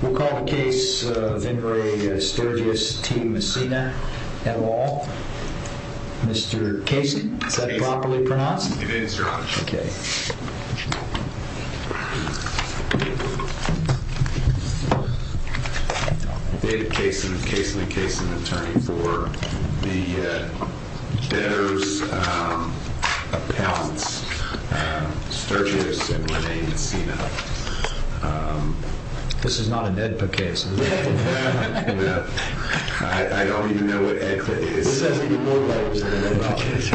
We'll call the case of In Re Stergiosand Renee Messina et al. Mr. Casey, is that properly pronounced? It is, Your Honor. Okay. David Casin, Casin and Casin, attorney for the Behrs appellants Stergiosand Renee Messina. This is not an AEDPA case, is it? No. I don't even know what AEDPA is. Who says that you know what AEDPA is?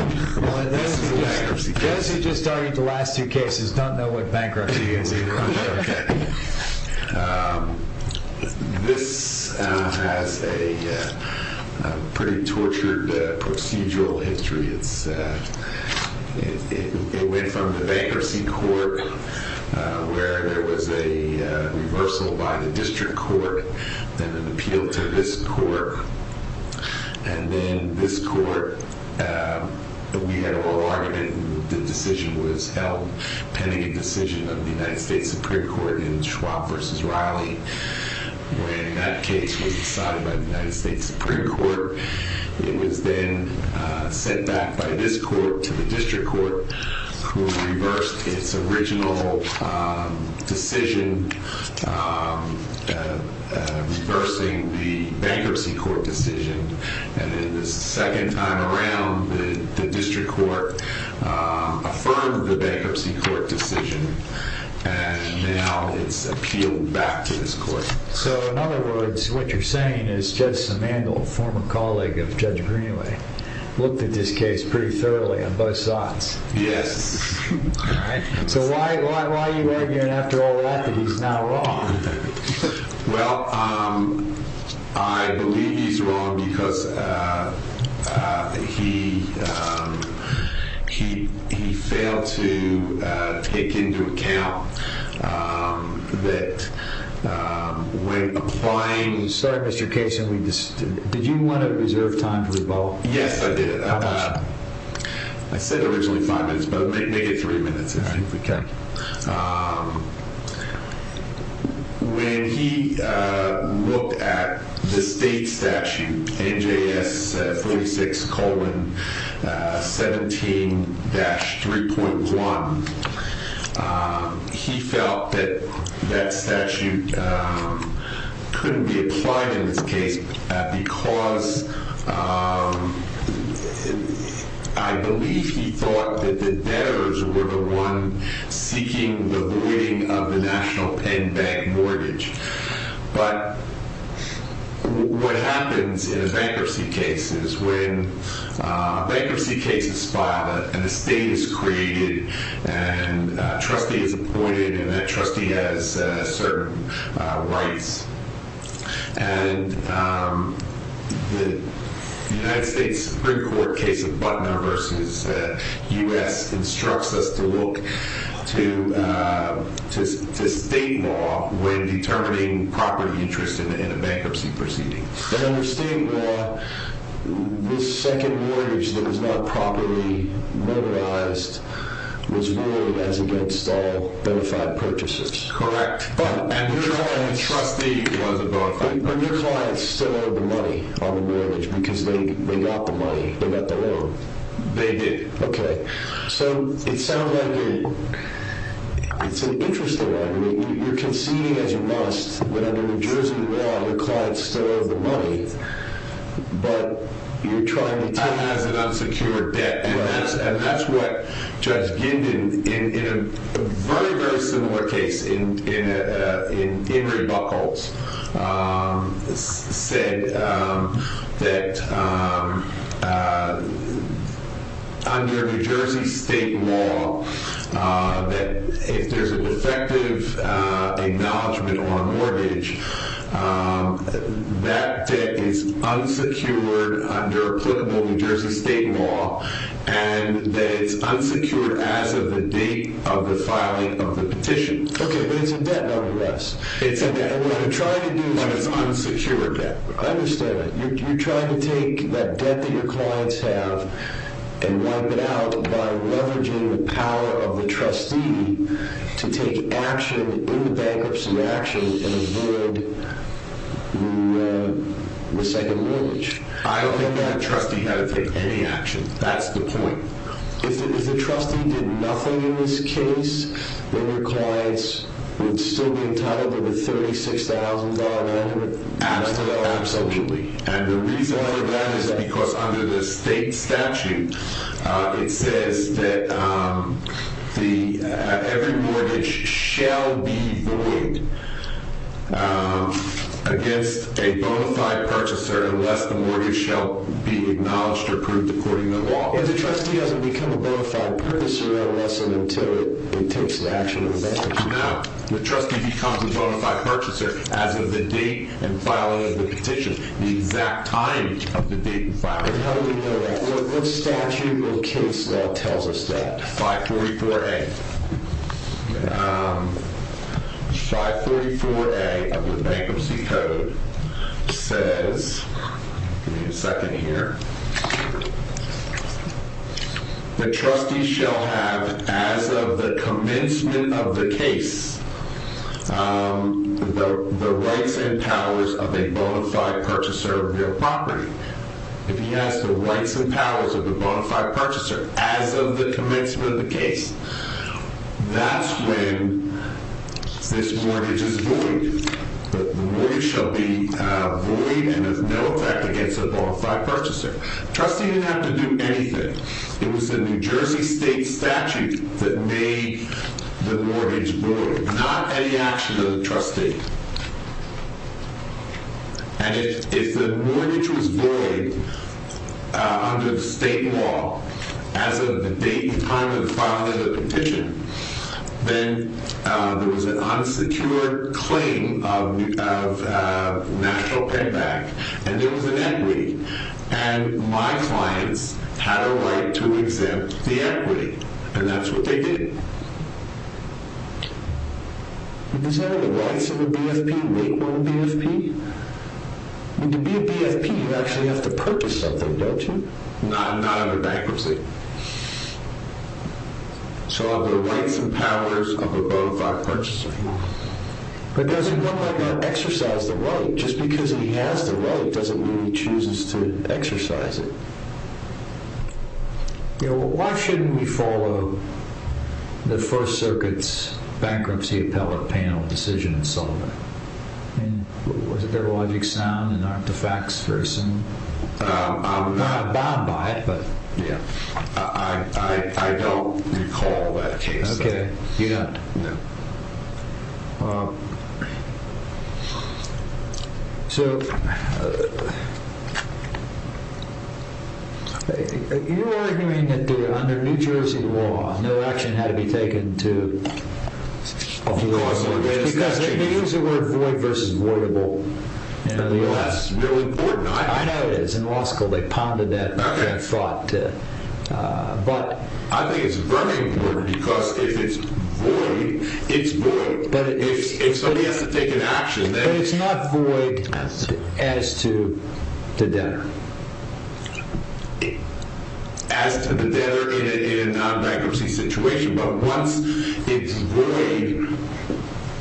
This is a bankruptcy case. Those who just argued the last two cases don't know what bankruptcy is either. Okay. This has a pretty tortured procedural history. It went from the bankruptcy court, where there was a reversal by the district court, then an appeal to this court, and then this court. We had an oral argument. The decision was held pending a decision of the United States Supreme Court in Schwab v. Riley. When that case was decided by the United States Supreme Court, it was then sent back by this court to the district court, who reversed its original decision, reversing the bankruptcy court decision. The second time around, the district court affirmed the bankruptcy court decision, and now it's appealed back to this court. In other words, what you're saying is Judge Simandl, former colleague of Judge Greenway, looked at this case pretty thoroughly on both sides. Yes. All right. Why are you arguing after all that that he's not wrong? Well, I believe he's wrong because he failed to take into account that when applying- I'm sorry, Mr. Case. Did you want to reserve time to revolt? Yes, I did. How much? I said originally five minutes, but make it three minutes. Okay. When he looked at the state statute, NJS 36-17-3.1, he felt that that statute couldn't be applied in this case because I believe he thought that the debtors were the one seeking the voiding of the National Penn Bank mortgage. But what happens in a bankruptcy case is when a bankruptcy case is filed and a state is created and a trustee is appointed and that trustee has certain rights. And the United States Supreme Court case of Butner v. U.S. instructs us to look to state law when determining property interest in a bankruptcy proceeding. And under state law, this second mortgage that was not properly mobilized was ruled as against all benefit purchases. Correct. And the trustee was a bona fide person. But your clients still owed the money on the mortgage because they got the money. They got the loan. They did. Okay. So it sounds like it's an interesting one. You're conceding as you must, but under New Jersey law, your clients still owe the money, but you're trying to take- As an unsecured debt. And that's what Judge Gindin, in a very, very similar case in Henry Buckles, said that under New Jersey state law, that if there's an effective acknowledgement on a mortgage, that debt is unsecured under applicable New Jersey state law, and that it's unsecured as of the date of the filing of the petition. Okay, but it's a debt nonetheless. It's a debt. And what you're trying to do is- But it's unsecured debt. I understand that. You're trying to take that debt that your clients have and wipe it out by leveraging the power of the trustee to take action in the bankruptcy action and avoid the second mortgage. I don't think that trustee had to take any action. That's the point. If the trustee did nothing in this case, then your clients would still be entitled to the $36,000 amount? Absolutely. And the reason for that is because under the state statute, it says that every mortgage shall be void against a bona fide purchaser unless the mortgage shall be acknowledged or approved according to law. If the trustee doesn't become a bona fide purchaser unless and until it takes the action of the bankruptcy. Now, the trustee becomes a bona fide purchaser as of the date and filing of the petition, the exact time of the date and filing. How do we know that? Well, this statute or case law tells us that. 544A. 544A of the Bankruptcy Code says, give me a second here. The trustee shall have, as of the commencement of the case, the rights and powers of a bona fide purchaser of real property. If he has the rights and powers of a bona fide purchaser as of the commencement of the case, that's when this mortgage is void. The mortgage shall be void and of no effect against a bona fide purchaser. The trustee didn't have to do anything. It was the New Jersey state statute that made the mortgage void. Not any action of the trustee. And if the mortgage was void under the state law as of the date and time of the filing of the petition, then there was an unsecured claim of national pen back, and there was an equity. And my clients had a right to exempt the equity, and that's what they did. Does any of the rights of a BFP make one a BFP? To be a BFP, you actually have to purchase something, don't you? Not under bankruptcy. So of the rights and powers of a bona fide purchaser. But doesn't one like that exercise the right? Just because he has the right doesn't mean he chooses to exercise it. Why shouldn't we follow the First Circuit's bankruptcy appellate panel decision in Sullivan? Was it their logic sound and not the facts for some? I'm not bound by it, but yeah. I don't recall that case. Okay. You don't? No. So you're arguing that under New Jersey law, no action had to be taken to cause a mortgage. Because they use the word void versus voidable in the U.S. That's really important. I know it is. In law school, they pounded that thought. I think it's very important because if it's void, it's void. If somebody has to take an action. But it's not void as to the debtor. As to the debtor in a bankruptcy situation. But once it's void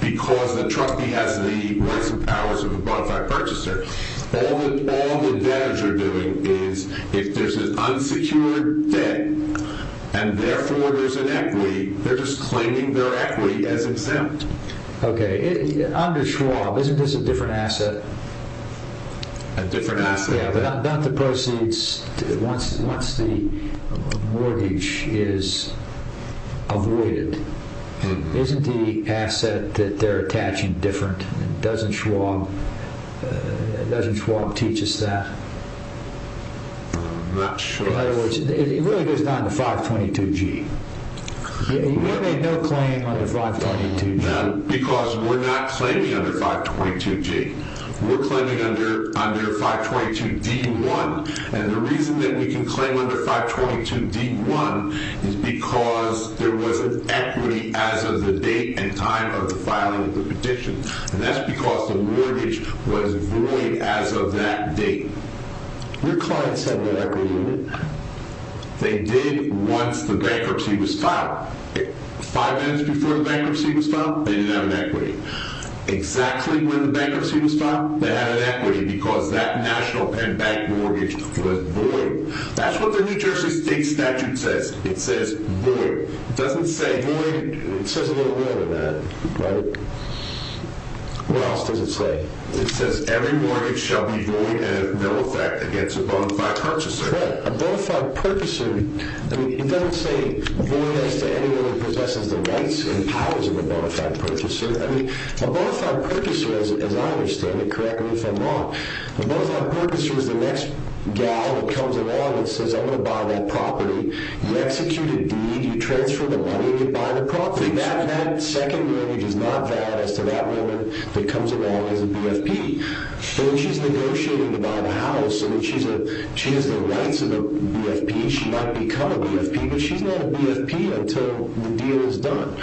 because the trustee has the rights and powers of a bona fide purchaser, all the debtors are doing is if there's an unsecured debt and therefore there's an equity, they're just claiming their equity as exempt. Okay. Under Schwab, isn't this a different asset? A different asset. Yeah, but not the proceeds. Once the mortgage is avoided, isn't the asset that they're attaching different? Doesn't Schwab teach us that? I'm not sure. It really goes down to 522G. We made no claim under 522G. Because we're not claiming under 522G. We're claiming under 522D1. And the reason that we can claim under 522D1 is because there was an equity as of the date and time of the filing of the petition. And that's because the mortgage was void as of that date. Your clients have an equity. They did once the bankruptcy was filed. Five minutes before the bankruptcy was filed, they didn't have an equity. Exactly when the bankruptcy was filed, they had an equity because that national pen bank mortgage was void. That's what the New Jersey State Statute says. It says void. It doesn't say void. It says a little more than that, right? What else does it say? It says every mortgage shall be void and of no effect against a bona fide purchaser. Right. A bona fide purchaser, I mean, it doesn't say void as to anyone who possesses the rights and powers of a bona fide purchaser. I mean, a bona fide purchaser, as I understand it, correct me if I'm wrong, a bona fide purchaser is the next guy that comes along and says, I'm going to buy that property. You execute a deed. You transfer the money. You buy the property. That second marriage is not valid as to that woman that comes along as a BFP. So when she's negotiating to buy the house, I mean, she has the rights of a BFP. She might become a BFP, but she's not a BFP until the deal is done.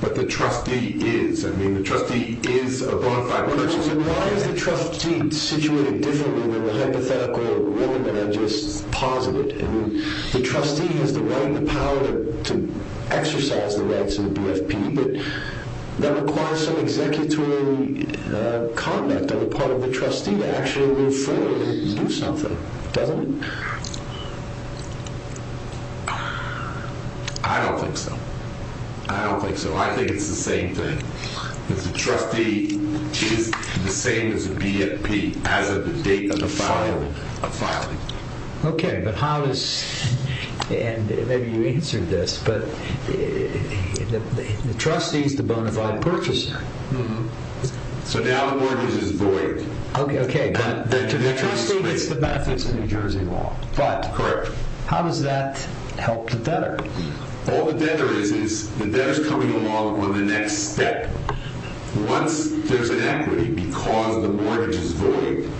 But the trustee is. I mean, the trustee is a bona fide purchaser. Why is the trustee situated differently than the hypothetical woman that I just posited? I mean, the trustee has the right and the power to exercise the rights of a BFP, but that requires some executory conduct on the part of the trustee to actually move forward and do something, doesn't it? I don't think so. I don't think so. I think it's the same thing. The trustee is the same as a BFP as of the date of the filing. Okay. But how does, and maybe you answered this, but the trustee is the bona fide purchaser. So now the mortgage is void. Okay. But to the trustee, it's the benefits of New Jersey law. Correct. But how does that help the debtor? All the debtor is, is the debtor's coming along on the next step. Once there's an equity because the mortgage is void,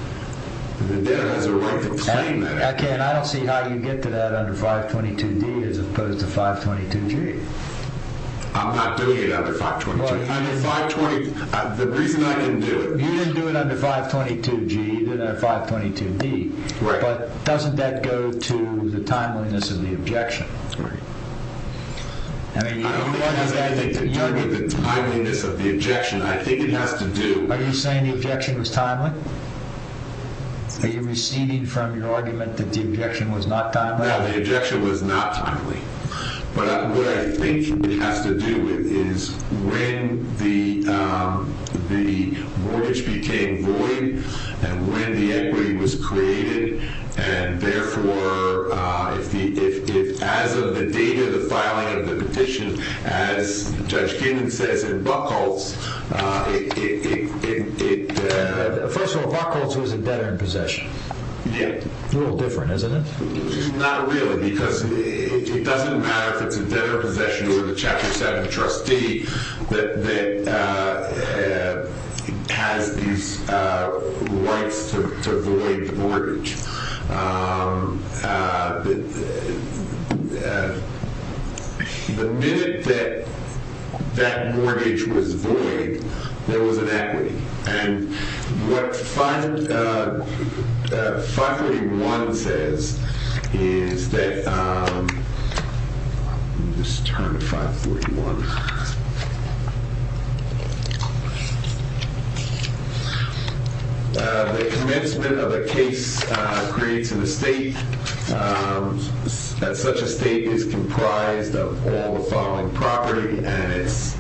the debtor has a right to claim that equity. Okay. And I don't see how you get to that under 522D as opposed to 522G. I'm not doing it under 522G. The reason I didn't do it. You didn't do it under 522G, you did it under 522D. Right. But doesn't that go to the timeliness of the objection? Right. I don't think it has anything to do with the timeliness of the objection. I think it has to do. Are you saying the objection was timely? Are you receding from your argument that the objection was not timely? No, the objection was not timely. But what I think it has to do with is when the mortgage became void and when the equity was created, and therefore, if as of the date of the filing of the petition, as Judge Finan says in Buchholz, it... First of all, Buchholz was a debtor in possession. Yeah. A little different, isn't it? Not really, because it doesn't matter if it's a debtor in possession or the Chapter 7 trustee that has these rights to void the mortgage. The minute that that mortgage was void, there was an equity. And what 531 says is that... Let me just turn to 541. The commencement of a case creates an estate. Such an estate is comprised of all the following property, and it's...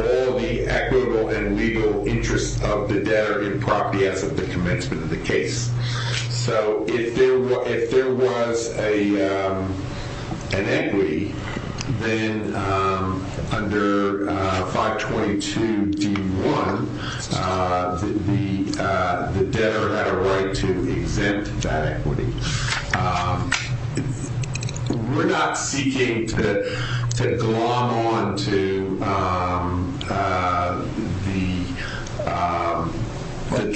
All the equitable and legal interests of the debtor in property as of the commencement of the case. So if there was an equity, then under 522D1, the debtor had a right to exempt that equity. We're not seeking to glom on to the... Let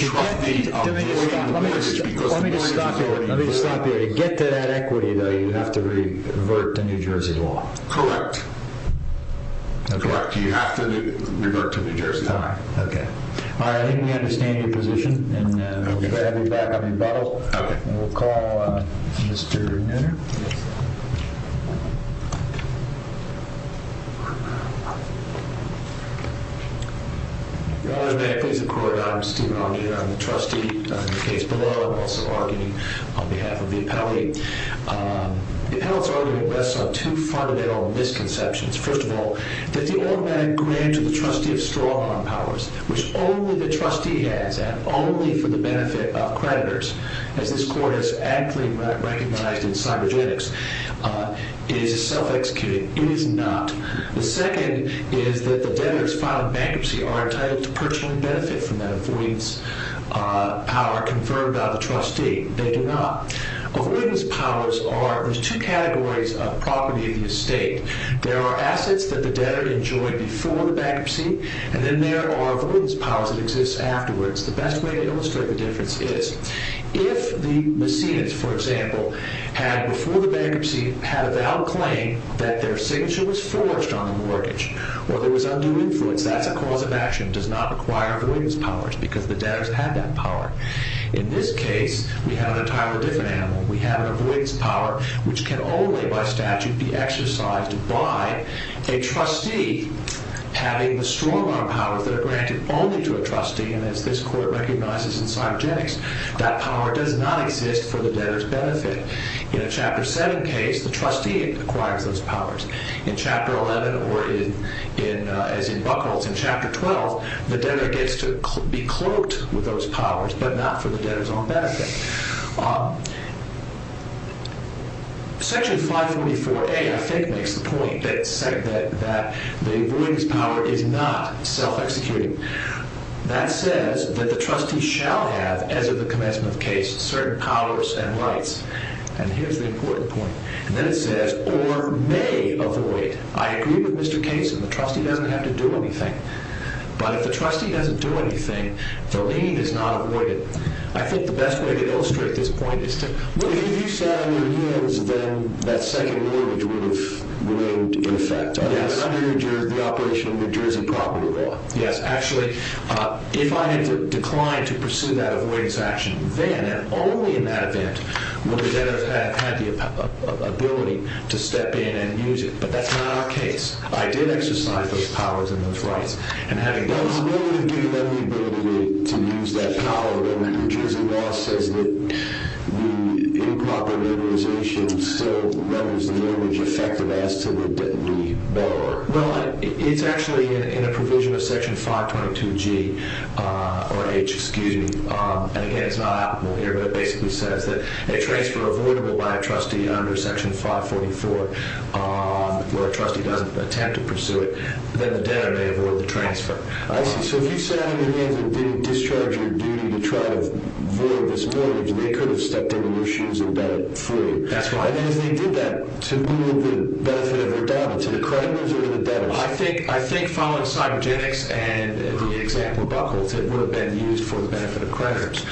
me just stop you there. To get to that equity, though, you have to revert to New Jersey law. Correct. Correct. You have to revert to New Jersey law. All right. Okay. All right. I think we understand your position. Okay. All right. We're back on rebuttal. Okay. And we'll call Mr. Nutter. Yes, sir. Your Honor, may I please have a quorum? I'm Steven Nutter. I'm the trustee. I'm the case below. I'm also arguing on behalf of the appellate. The appellate's arguing based on two fundamental misconceptions. First of all, that the automatic grant to the trustee of strong-arm powers, which only the trustee has that only for the benefit of creditors, as this court has actively recognized in cybergenics, is self-executing. It is not. The second is that the debtors filed bankruptcy are entitled to purchasing benefit from that avoidance power confirmed by the trustee. They do not. Avoidance powers are, there's two categories of property of the estate. There are assets that the debtor enjoyed before the bankruptcy, and then there are avoidance powers that exist afterwards. The best way to illustrate the difference is if the machinist, for example, had, before the bankruptcy, had a valid claim that their signature was forged on the mortgage or there was undue influence, that's a cause of action. It does not require avoidance powers because the debtors had that power. In this case, we have an entirely different animal. We have an avoidance power which can only, by statute, be exercised by a trustee having the strong-arm powers that are granted only to a trustee, and as this court recognizes in cybergenics, that power does not exist for the debtor's benefit. In a Chapter 7 case, the trustee acquires those powers. In Chapter 11, or as in Buchholz, in Chapter 12, the debtor gets to be cloaked with those powers, but not for the debtor's own benefit. Section 544A, I think, makes the point that the avoidance power is not self-executing. That says that the trustee shall have, as of the commencement of the case, certain powers and rights, and here's the important point, and then it says, or may avoid. I agree with Mr. Case that the trustee doesn't have to do anything, but if the trustee doesn't do anything, the lien is not avoided. I think the best way to illustrate this point is to... Well, if you sat on your knees, then that second mortgage would have remained in effect. Yes. Under your jurisdiction, the operation of your jurisdiction probably will. Yes, actually, if I had declined to pursue that avoidance action, then, and only in that event, would the debtor have had the ability to step in and use it, but that's not our case. I did exercise those powers and those rights, and having done so... Well, it's more than giving them the ability to use that power. The New Jersey law says that the improper motorization still renders the mortgage effective as to the debtor. Well, it's actually in a provision of Section 522G, or H, excuse me, and again, it's not applicable here, but it basically says that a transfer avoidable by a trustee under Section 544, where a trustee doesn't attempt to pursue it, then the debtor may avoid the transfer. I see. So if you sat on your knees and didn't discharge your duty to try to avoid this mortgage, they could have stepped into your shoes and got it free. That's right. And as they did that, to whom would the benefit of their doubt? To the creditors or to the debtors? I think, following cybergenics and the example of buckles, it would have been used for the benefit of creditors.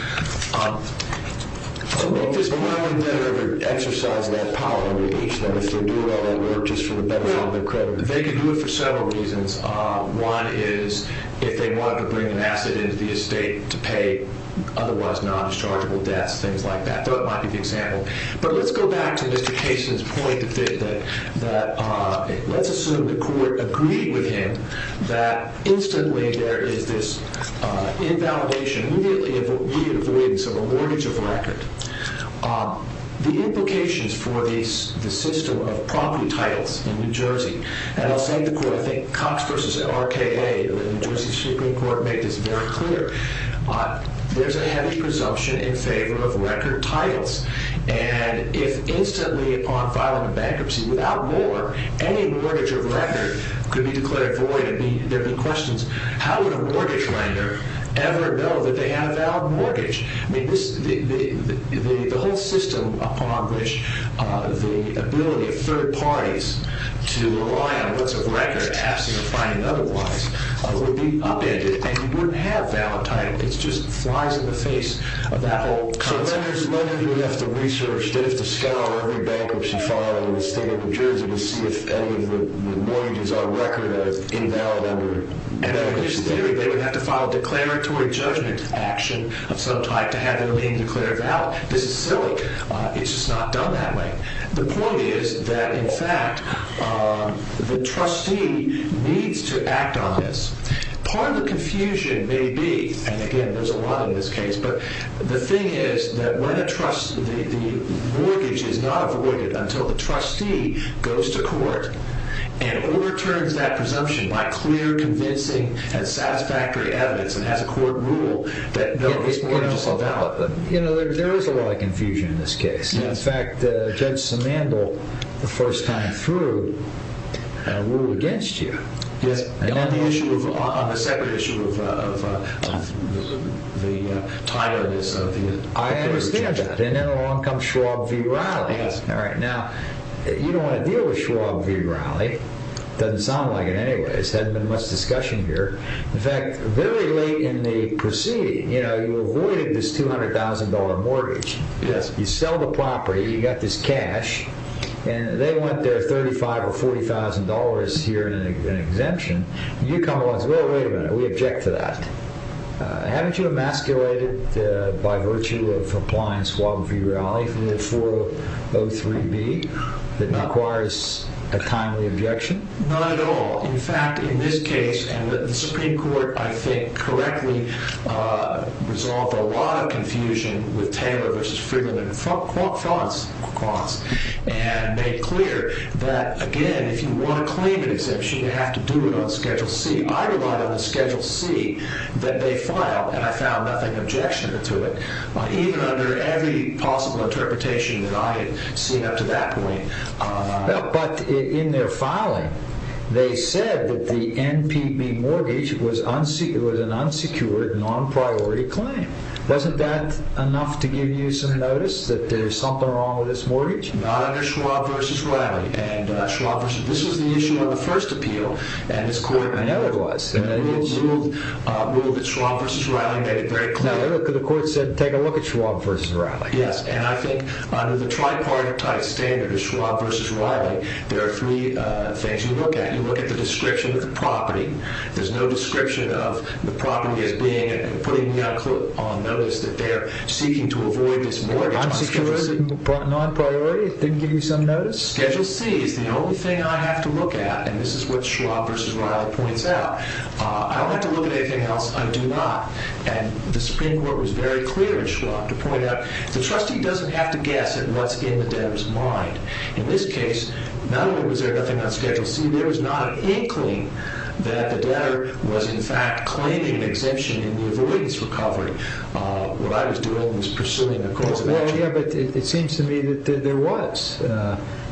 So maybe it's probably better to exercise that power under H than if they're doing all that work just for the benefit of their creditors. They could do it for several reasons. One is if they wanted to bring an asset into the estate to pay otherwise non-dischargeable debts, things like that. That might be the example. But let's go back to Mr. Kaysen's point that let's assume the court agreed with him that instantly there is this invalidation, immediately avoidance of a mortgage of record. The implications for the system of property titles in New Jersey, and I'll say to the court, I think Cox v. RKA, the New Jersey Supreme Court, made this very clear. There's a heavy presumption in favor of record titles. And if instantly upon filing a bankruptcy, without more, any mortgage of record could be declared void, there'd be questions. How would a mortgage lender ever know that they have a valid mortgage? I mean, the whole system upon which the ability of third parties to rely on books of record, absent of finding otherwise, would be upended, and you wouldn't have valid title. It just flies in the face of that whole concept. So lenders would have to research, they'd have to scour every bankruptcy file in the state of New Jersey to see if any of the mortgages on record are invalid under bankruptcy. And in his theory, they would have to file a declaratory judgment action of some type to have their name declared valid. This is silly. It's just not done that way. The point is that, in fact, the trustee needs to act on this. Part of the confusion may be, and again, there's a lot in this case, but the thing is that when a trustee, the mortgage is not avoided until the trustee goes to court and overturns that presumption by clear, convincing and satisfactory evidence and has a court rule that no, this mortgage is invalid. There is a lot of confusion in this case. In fact, Judge Samandel, the first time through, ruled against you. On the separate issue of the title of this. I understand that. And then along comes Schwab v. Rowley. Now, you don't want to deal with Schwab v. Rowley. Doesn't sound like it anyway. There hasn't been much discussion here. In fact, very late in the proceeding, you avoided this $200,000 mortgage. You sell the property. You got this cash. They want their $35,000 or $40,000 here in an exemption. You come along and say, wait a minute, we object to that. Haven't you emasculated by virtue of applying Schwab v. Rowley for the 403B that requires a timely objection? Not at all. In fact, in this case, and the Supreme Court, I think, correctly resolved a lot of confusion with Taylor v. Friedman and Franz and made clear that, again, if you want to claim an exemption, you have to do it on Schedule C. I relied on the Schedule C that they filed, and I found nothing objectionable to it, even under every possible interpretation that I had seen up to that point. But in their filing, they said that the NPP mortgage was an unsecured, non-priority claim. Wasn't that enough to give you some notice that there's something wrong with this mortgage? Not under Schwab v. Rowley. This was the issue of the first appeal. I know it was. The rule that Schwab v. Rowley made it very clear. The court said, take a look at Schwab v. Rowley. Yes, and I think under the tripartite standard of Schwab v. Rowley, there are three things you look at. You look at the description of the property. There's no description of the property as being and putting me on notice that they're seeking to avoid this mortgage on Schedule C. Unsecured, non-priority, didn't give you some notice? Schedule C is the only thing I have to look at, and this is what Schwab v. Rowley points out. I don't have to look at anything else. I do not, and the Supreme Court was very clear in Schwab to point out, the trustee doesn't have to guess at what's in the debtor's mind. In this case, not only was there nothing on Schedule C, there was not an inkling that the debtor was, in fact, claiming an exemption in the avoidance recovery. What I was doing was pursuing a course of action. Yeah, but it seems to me that there was.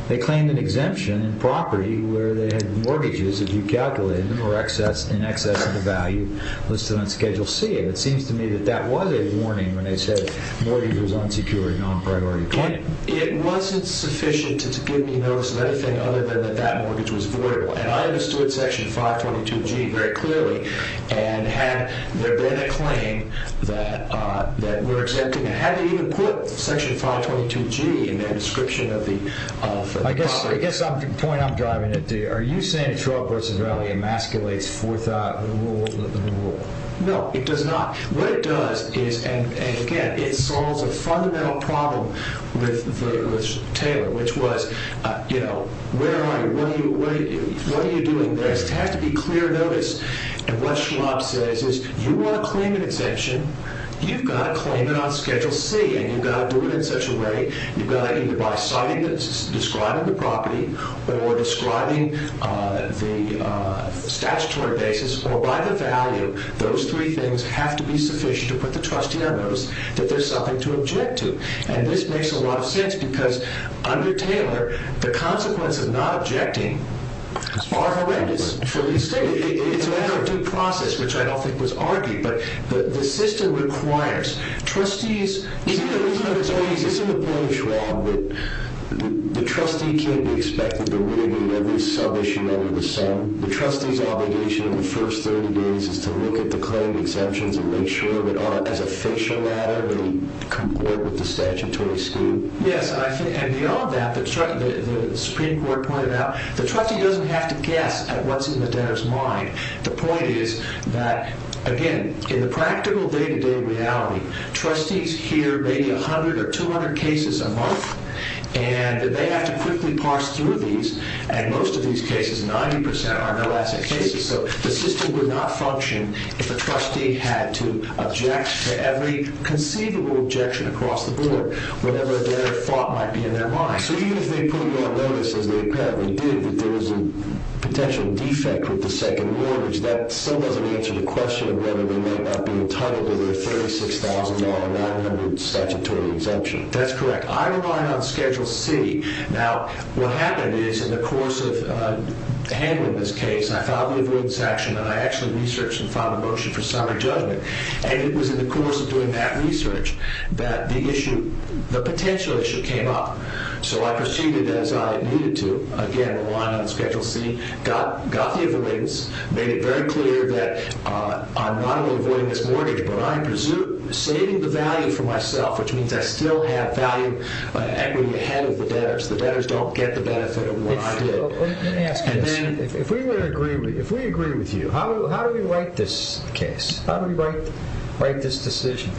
They claimed an exemption in property where they had mortgages, if you calculated them, in excess of the value listed on Schedule C, and it seems to me that that was a warning when they said mortgage was unsecured, non-priority claim. It wasn't sufficient to give me notice of anything other than that that mortgage was voidable, and I understood Section 522G very clearly, and had there been a claim that we're exempting it, had they even put Section 522G in their description of the property? I guess the point I'm driving at, are you saying that Schwab v. Rowley emasculates forth the rule? No, it does not. What it does is, and again, it solves a fundamental problem with Taylor, which was, you know, where are you? What are you doing? There has to be clear notice, and what Schwab says is, you want to claim an exemption, you've got to claim it on Schedule C, and you've got to do it in such a way, you've got to either by citing it, describing the property, or describing the statutory basis, or by the value, those three things have to be sufficient to put the trustee on notice that there's something to object to. And this makes a lot of sense, because under Taylor, the consequence of not objecting are horrendous for the estate. It's a matter of due process, which I don't think was argued, but the system requires trustees. Isn't the point of Schwab that the trustee can't be expected to read every sub-issue under the sun? The trustee's obligation in the first 30 days is to look at the claimed exemptions and make sure that as a fictional matter, they comport with the statutory scheme? Yes, and beyond that, the Supreme Court pointed out, the trustee doesn't have to guess at what's in the debtor's mind. The point is that, again, in the practical day-to-day reality, trustees hear maybe 100 or 200 cases a month, and that they have to quickly parse through these, and most of these cases, 90%, are no-asset cases. So the system would not function if a trustee had to object to every conceivable objection across the board, whatever their thought might be in their mind. So even if they put you on notice, as they apparently did, that there was a potential defect with the second mortgage, that still doesn't answer the question of whether they might not be entitled to the $36,900 statutory exemption. That's correct. I relied on Schedule C. Now, what happened is, in the course of handling this case, I filed the avoidance action, and I actually researched and filed a motion for summary judgment, and it was in the course of doing that research that the potential issue came up. So I proceeded as I needed to, again, relying on Schedule C, got the avoidance, made it very clear that I'm not only avoiding this mortgage, but I'm saving the value for myself, which means I still have value equity ahead of the debtors. The debtors don't get the benefit of what I did. If we agree with you, how do we write this case? How do we write this decision?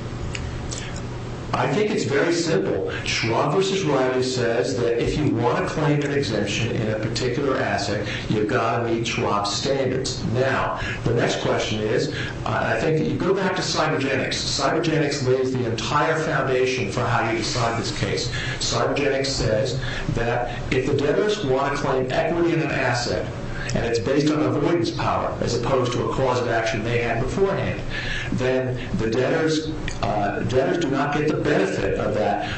I think it's very simple. Schwab v. Riley says that if you want to claim an exemption in a particular asset, you've got to meet Schwab's standards. Now, the next question is, I think you go back to cybergenics. Cybergenics lays the entire foundation for how you decide this case. Cybergenics says that if the debtors want to claim equity in an asset, and it's based on avoidance power as opposed to a cause of action they had beforehand, then the debtors do not get the benefit of that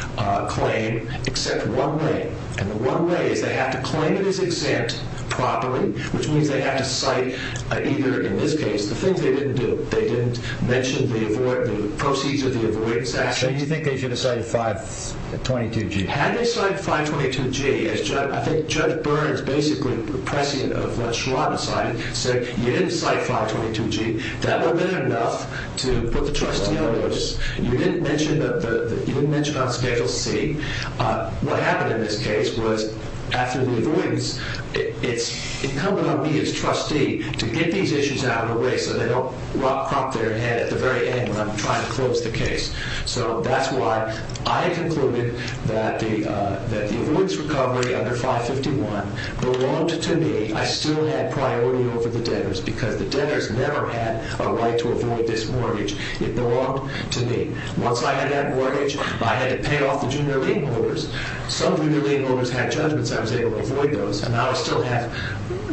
claim except one way, and the one way is they have to claim it as exempt properly, which means they have to cite either, in this case, the things they didn't do. They didn't mention the proceeds of the avoidance action. So you think they should have cited 522G? Had they cited 522G, as I think Judge Burns, basically the president of what Schwab decided, said you didn't cite 522G, that would have been enough to put the trustee on notice. You didn't mention on Schedule C. What happened in this case was after the avoidance, it's incumbent on me as trustee to get these issues out of the way so they don't crop their head at the very end when I'm trying to close the case. So that's why I concluded that the avoidance recovery under 551 belonged to me. I still had priority over the debtors because the debtors never had a right to avoid this mortgage. It belonged to me. Once I had that mortgage, I had to pay off the junior lien holders. Some junior lien holders had judgments. I was able to avoid those. And I would still have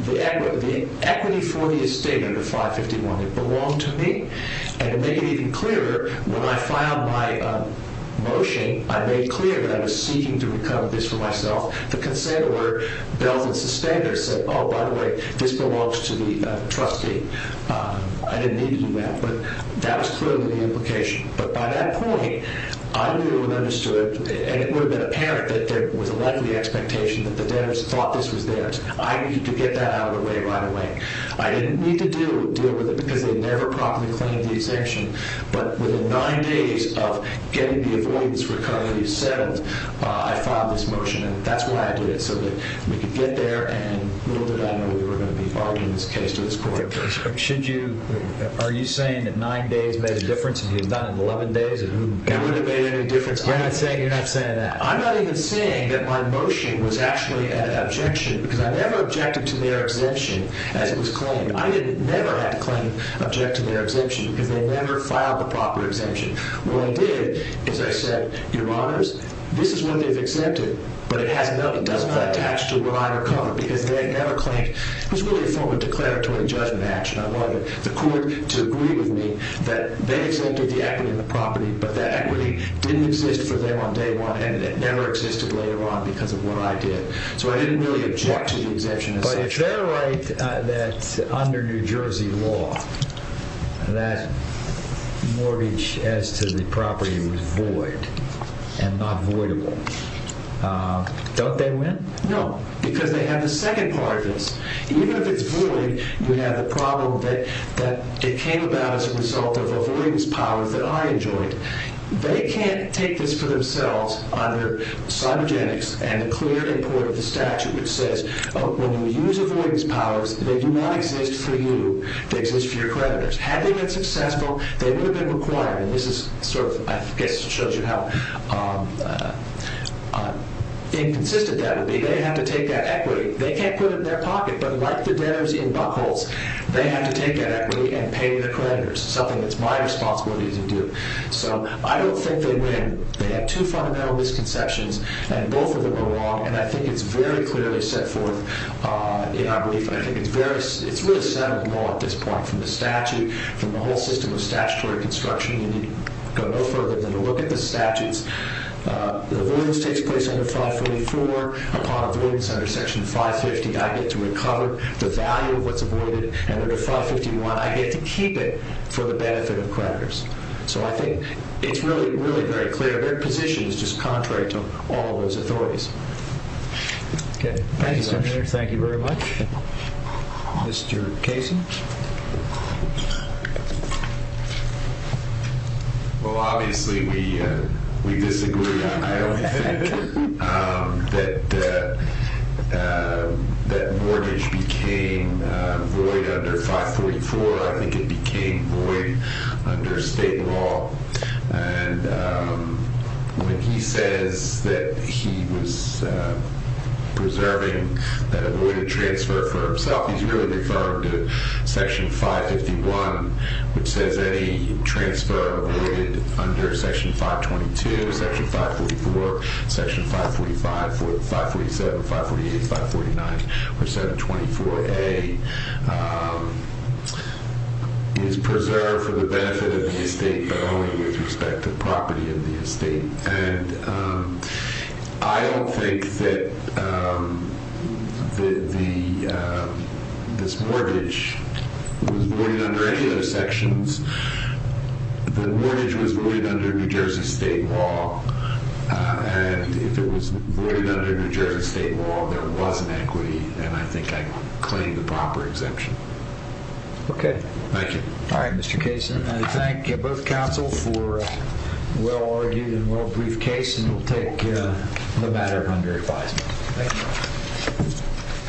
the equity for the estate under 551. It belonged to me. And to make it even clearer, when I filed my motion, I made clear that I was seeking to recover this for myself. The considerer, Belvin Sustainer, said, oh, by the way, this belongs to the trustee. I didn't need to do that. But that was clearly the implication. But by that point, I knew and understood, and it would have been apparent that there was a likely expectation that the debtors thought this was theirs. I needed to get that out of the way right away. I didn't need to deal with it because they never properly claimed the exemption. But within nine days of getting the avoidance recovery settled, I filed this motion. And that's why I did it, so that we could get there and little did I know we were going to be barred in this case to this court. Are you saying that nine days made a difference and you had done it in 11 days? It wouldn't have made any difference. You're not saying that. I'm not even saying that my motion was actually an objection because I never objected to their exemption as it was claimed. I never had to claim, object to their exemption because they never filed the proper exemption. What I did is I said, your honors, this is what they've accepted, but it doesn't attach to what I recovered because they never claimed. It was really a form of declaratory judgment action. I wanted the court to agree with me that they accepted the equity in the property, but that equity didn't exist for them on day one and it never existed later on because of what I did. So I didn't really object to the exemption. But if they're right that under New Jersey law, that mortgage as to the property was void and not voidable, don't they win? No, because they have the second part of this. Even if it's void, you have the problem that it came about as a result of avoidance powers that I enjoyed. They can't take this for themselves under cybogenics and the clear import of the statute, which says when you use avoidance powers, they do not exist for you. They exist for your creditors. Had they been successful, they would have been required. And this is sort of, I guess it shows you how inconsistent that would be. They have to take that equity. They can't put it in their pocket, but like the debtors in buck holes, they have to take that equity and pay their creditors, something that's my responsibility to do. So I don't think they win. They have two fundamental misconceptions, and both of them are wrong. And I think it's very clearly set forth in our brief. I think it's really settled law at this point from the statute, from the whole system of statutory construction. You need go no further than to look at the statutes. The avoidance takes place under 544. Upon avoidance under Section 550, I get to recover the value of what's avoided. Under 551, I get to keep it for the benefit of creditors. So I think it's really, really very clear. Their position is just contrary to all those authorities. Okay. Thank you, Senator. Thank you very much. Mr. Kasin. Well, obviously we disagree. I only think that mortgage became void under 544. I think it became void under state law. And when he says that he was preserving that avoided transfer for himself, he's really referring to Section 551, which says any transfer avoided under Section 522, Section 544, Section 545, 547, 548, 549, or 724A is preserved for the benefit of the estate, but only with respect to property of the estate. And I don't think that this mortgage was void under any of those sections. The mortgage was void under New Jersey state law. And if it was void under New Jersey state law, there was an equity. And I think I claim the proper exemption. Okay. Thank you. All right, Mr. Kasin. I thank both counsel for a well-argued and well-brief case, and we'll take the matter under advisement. Thank you.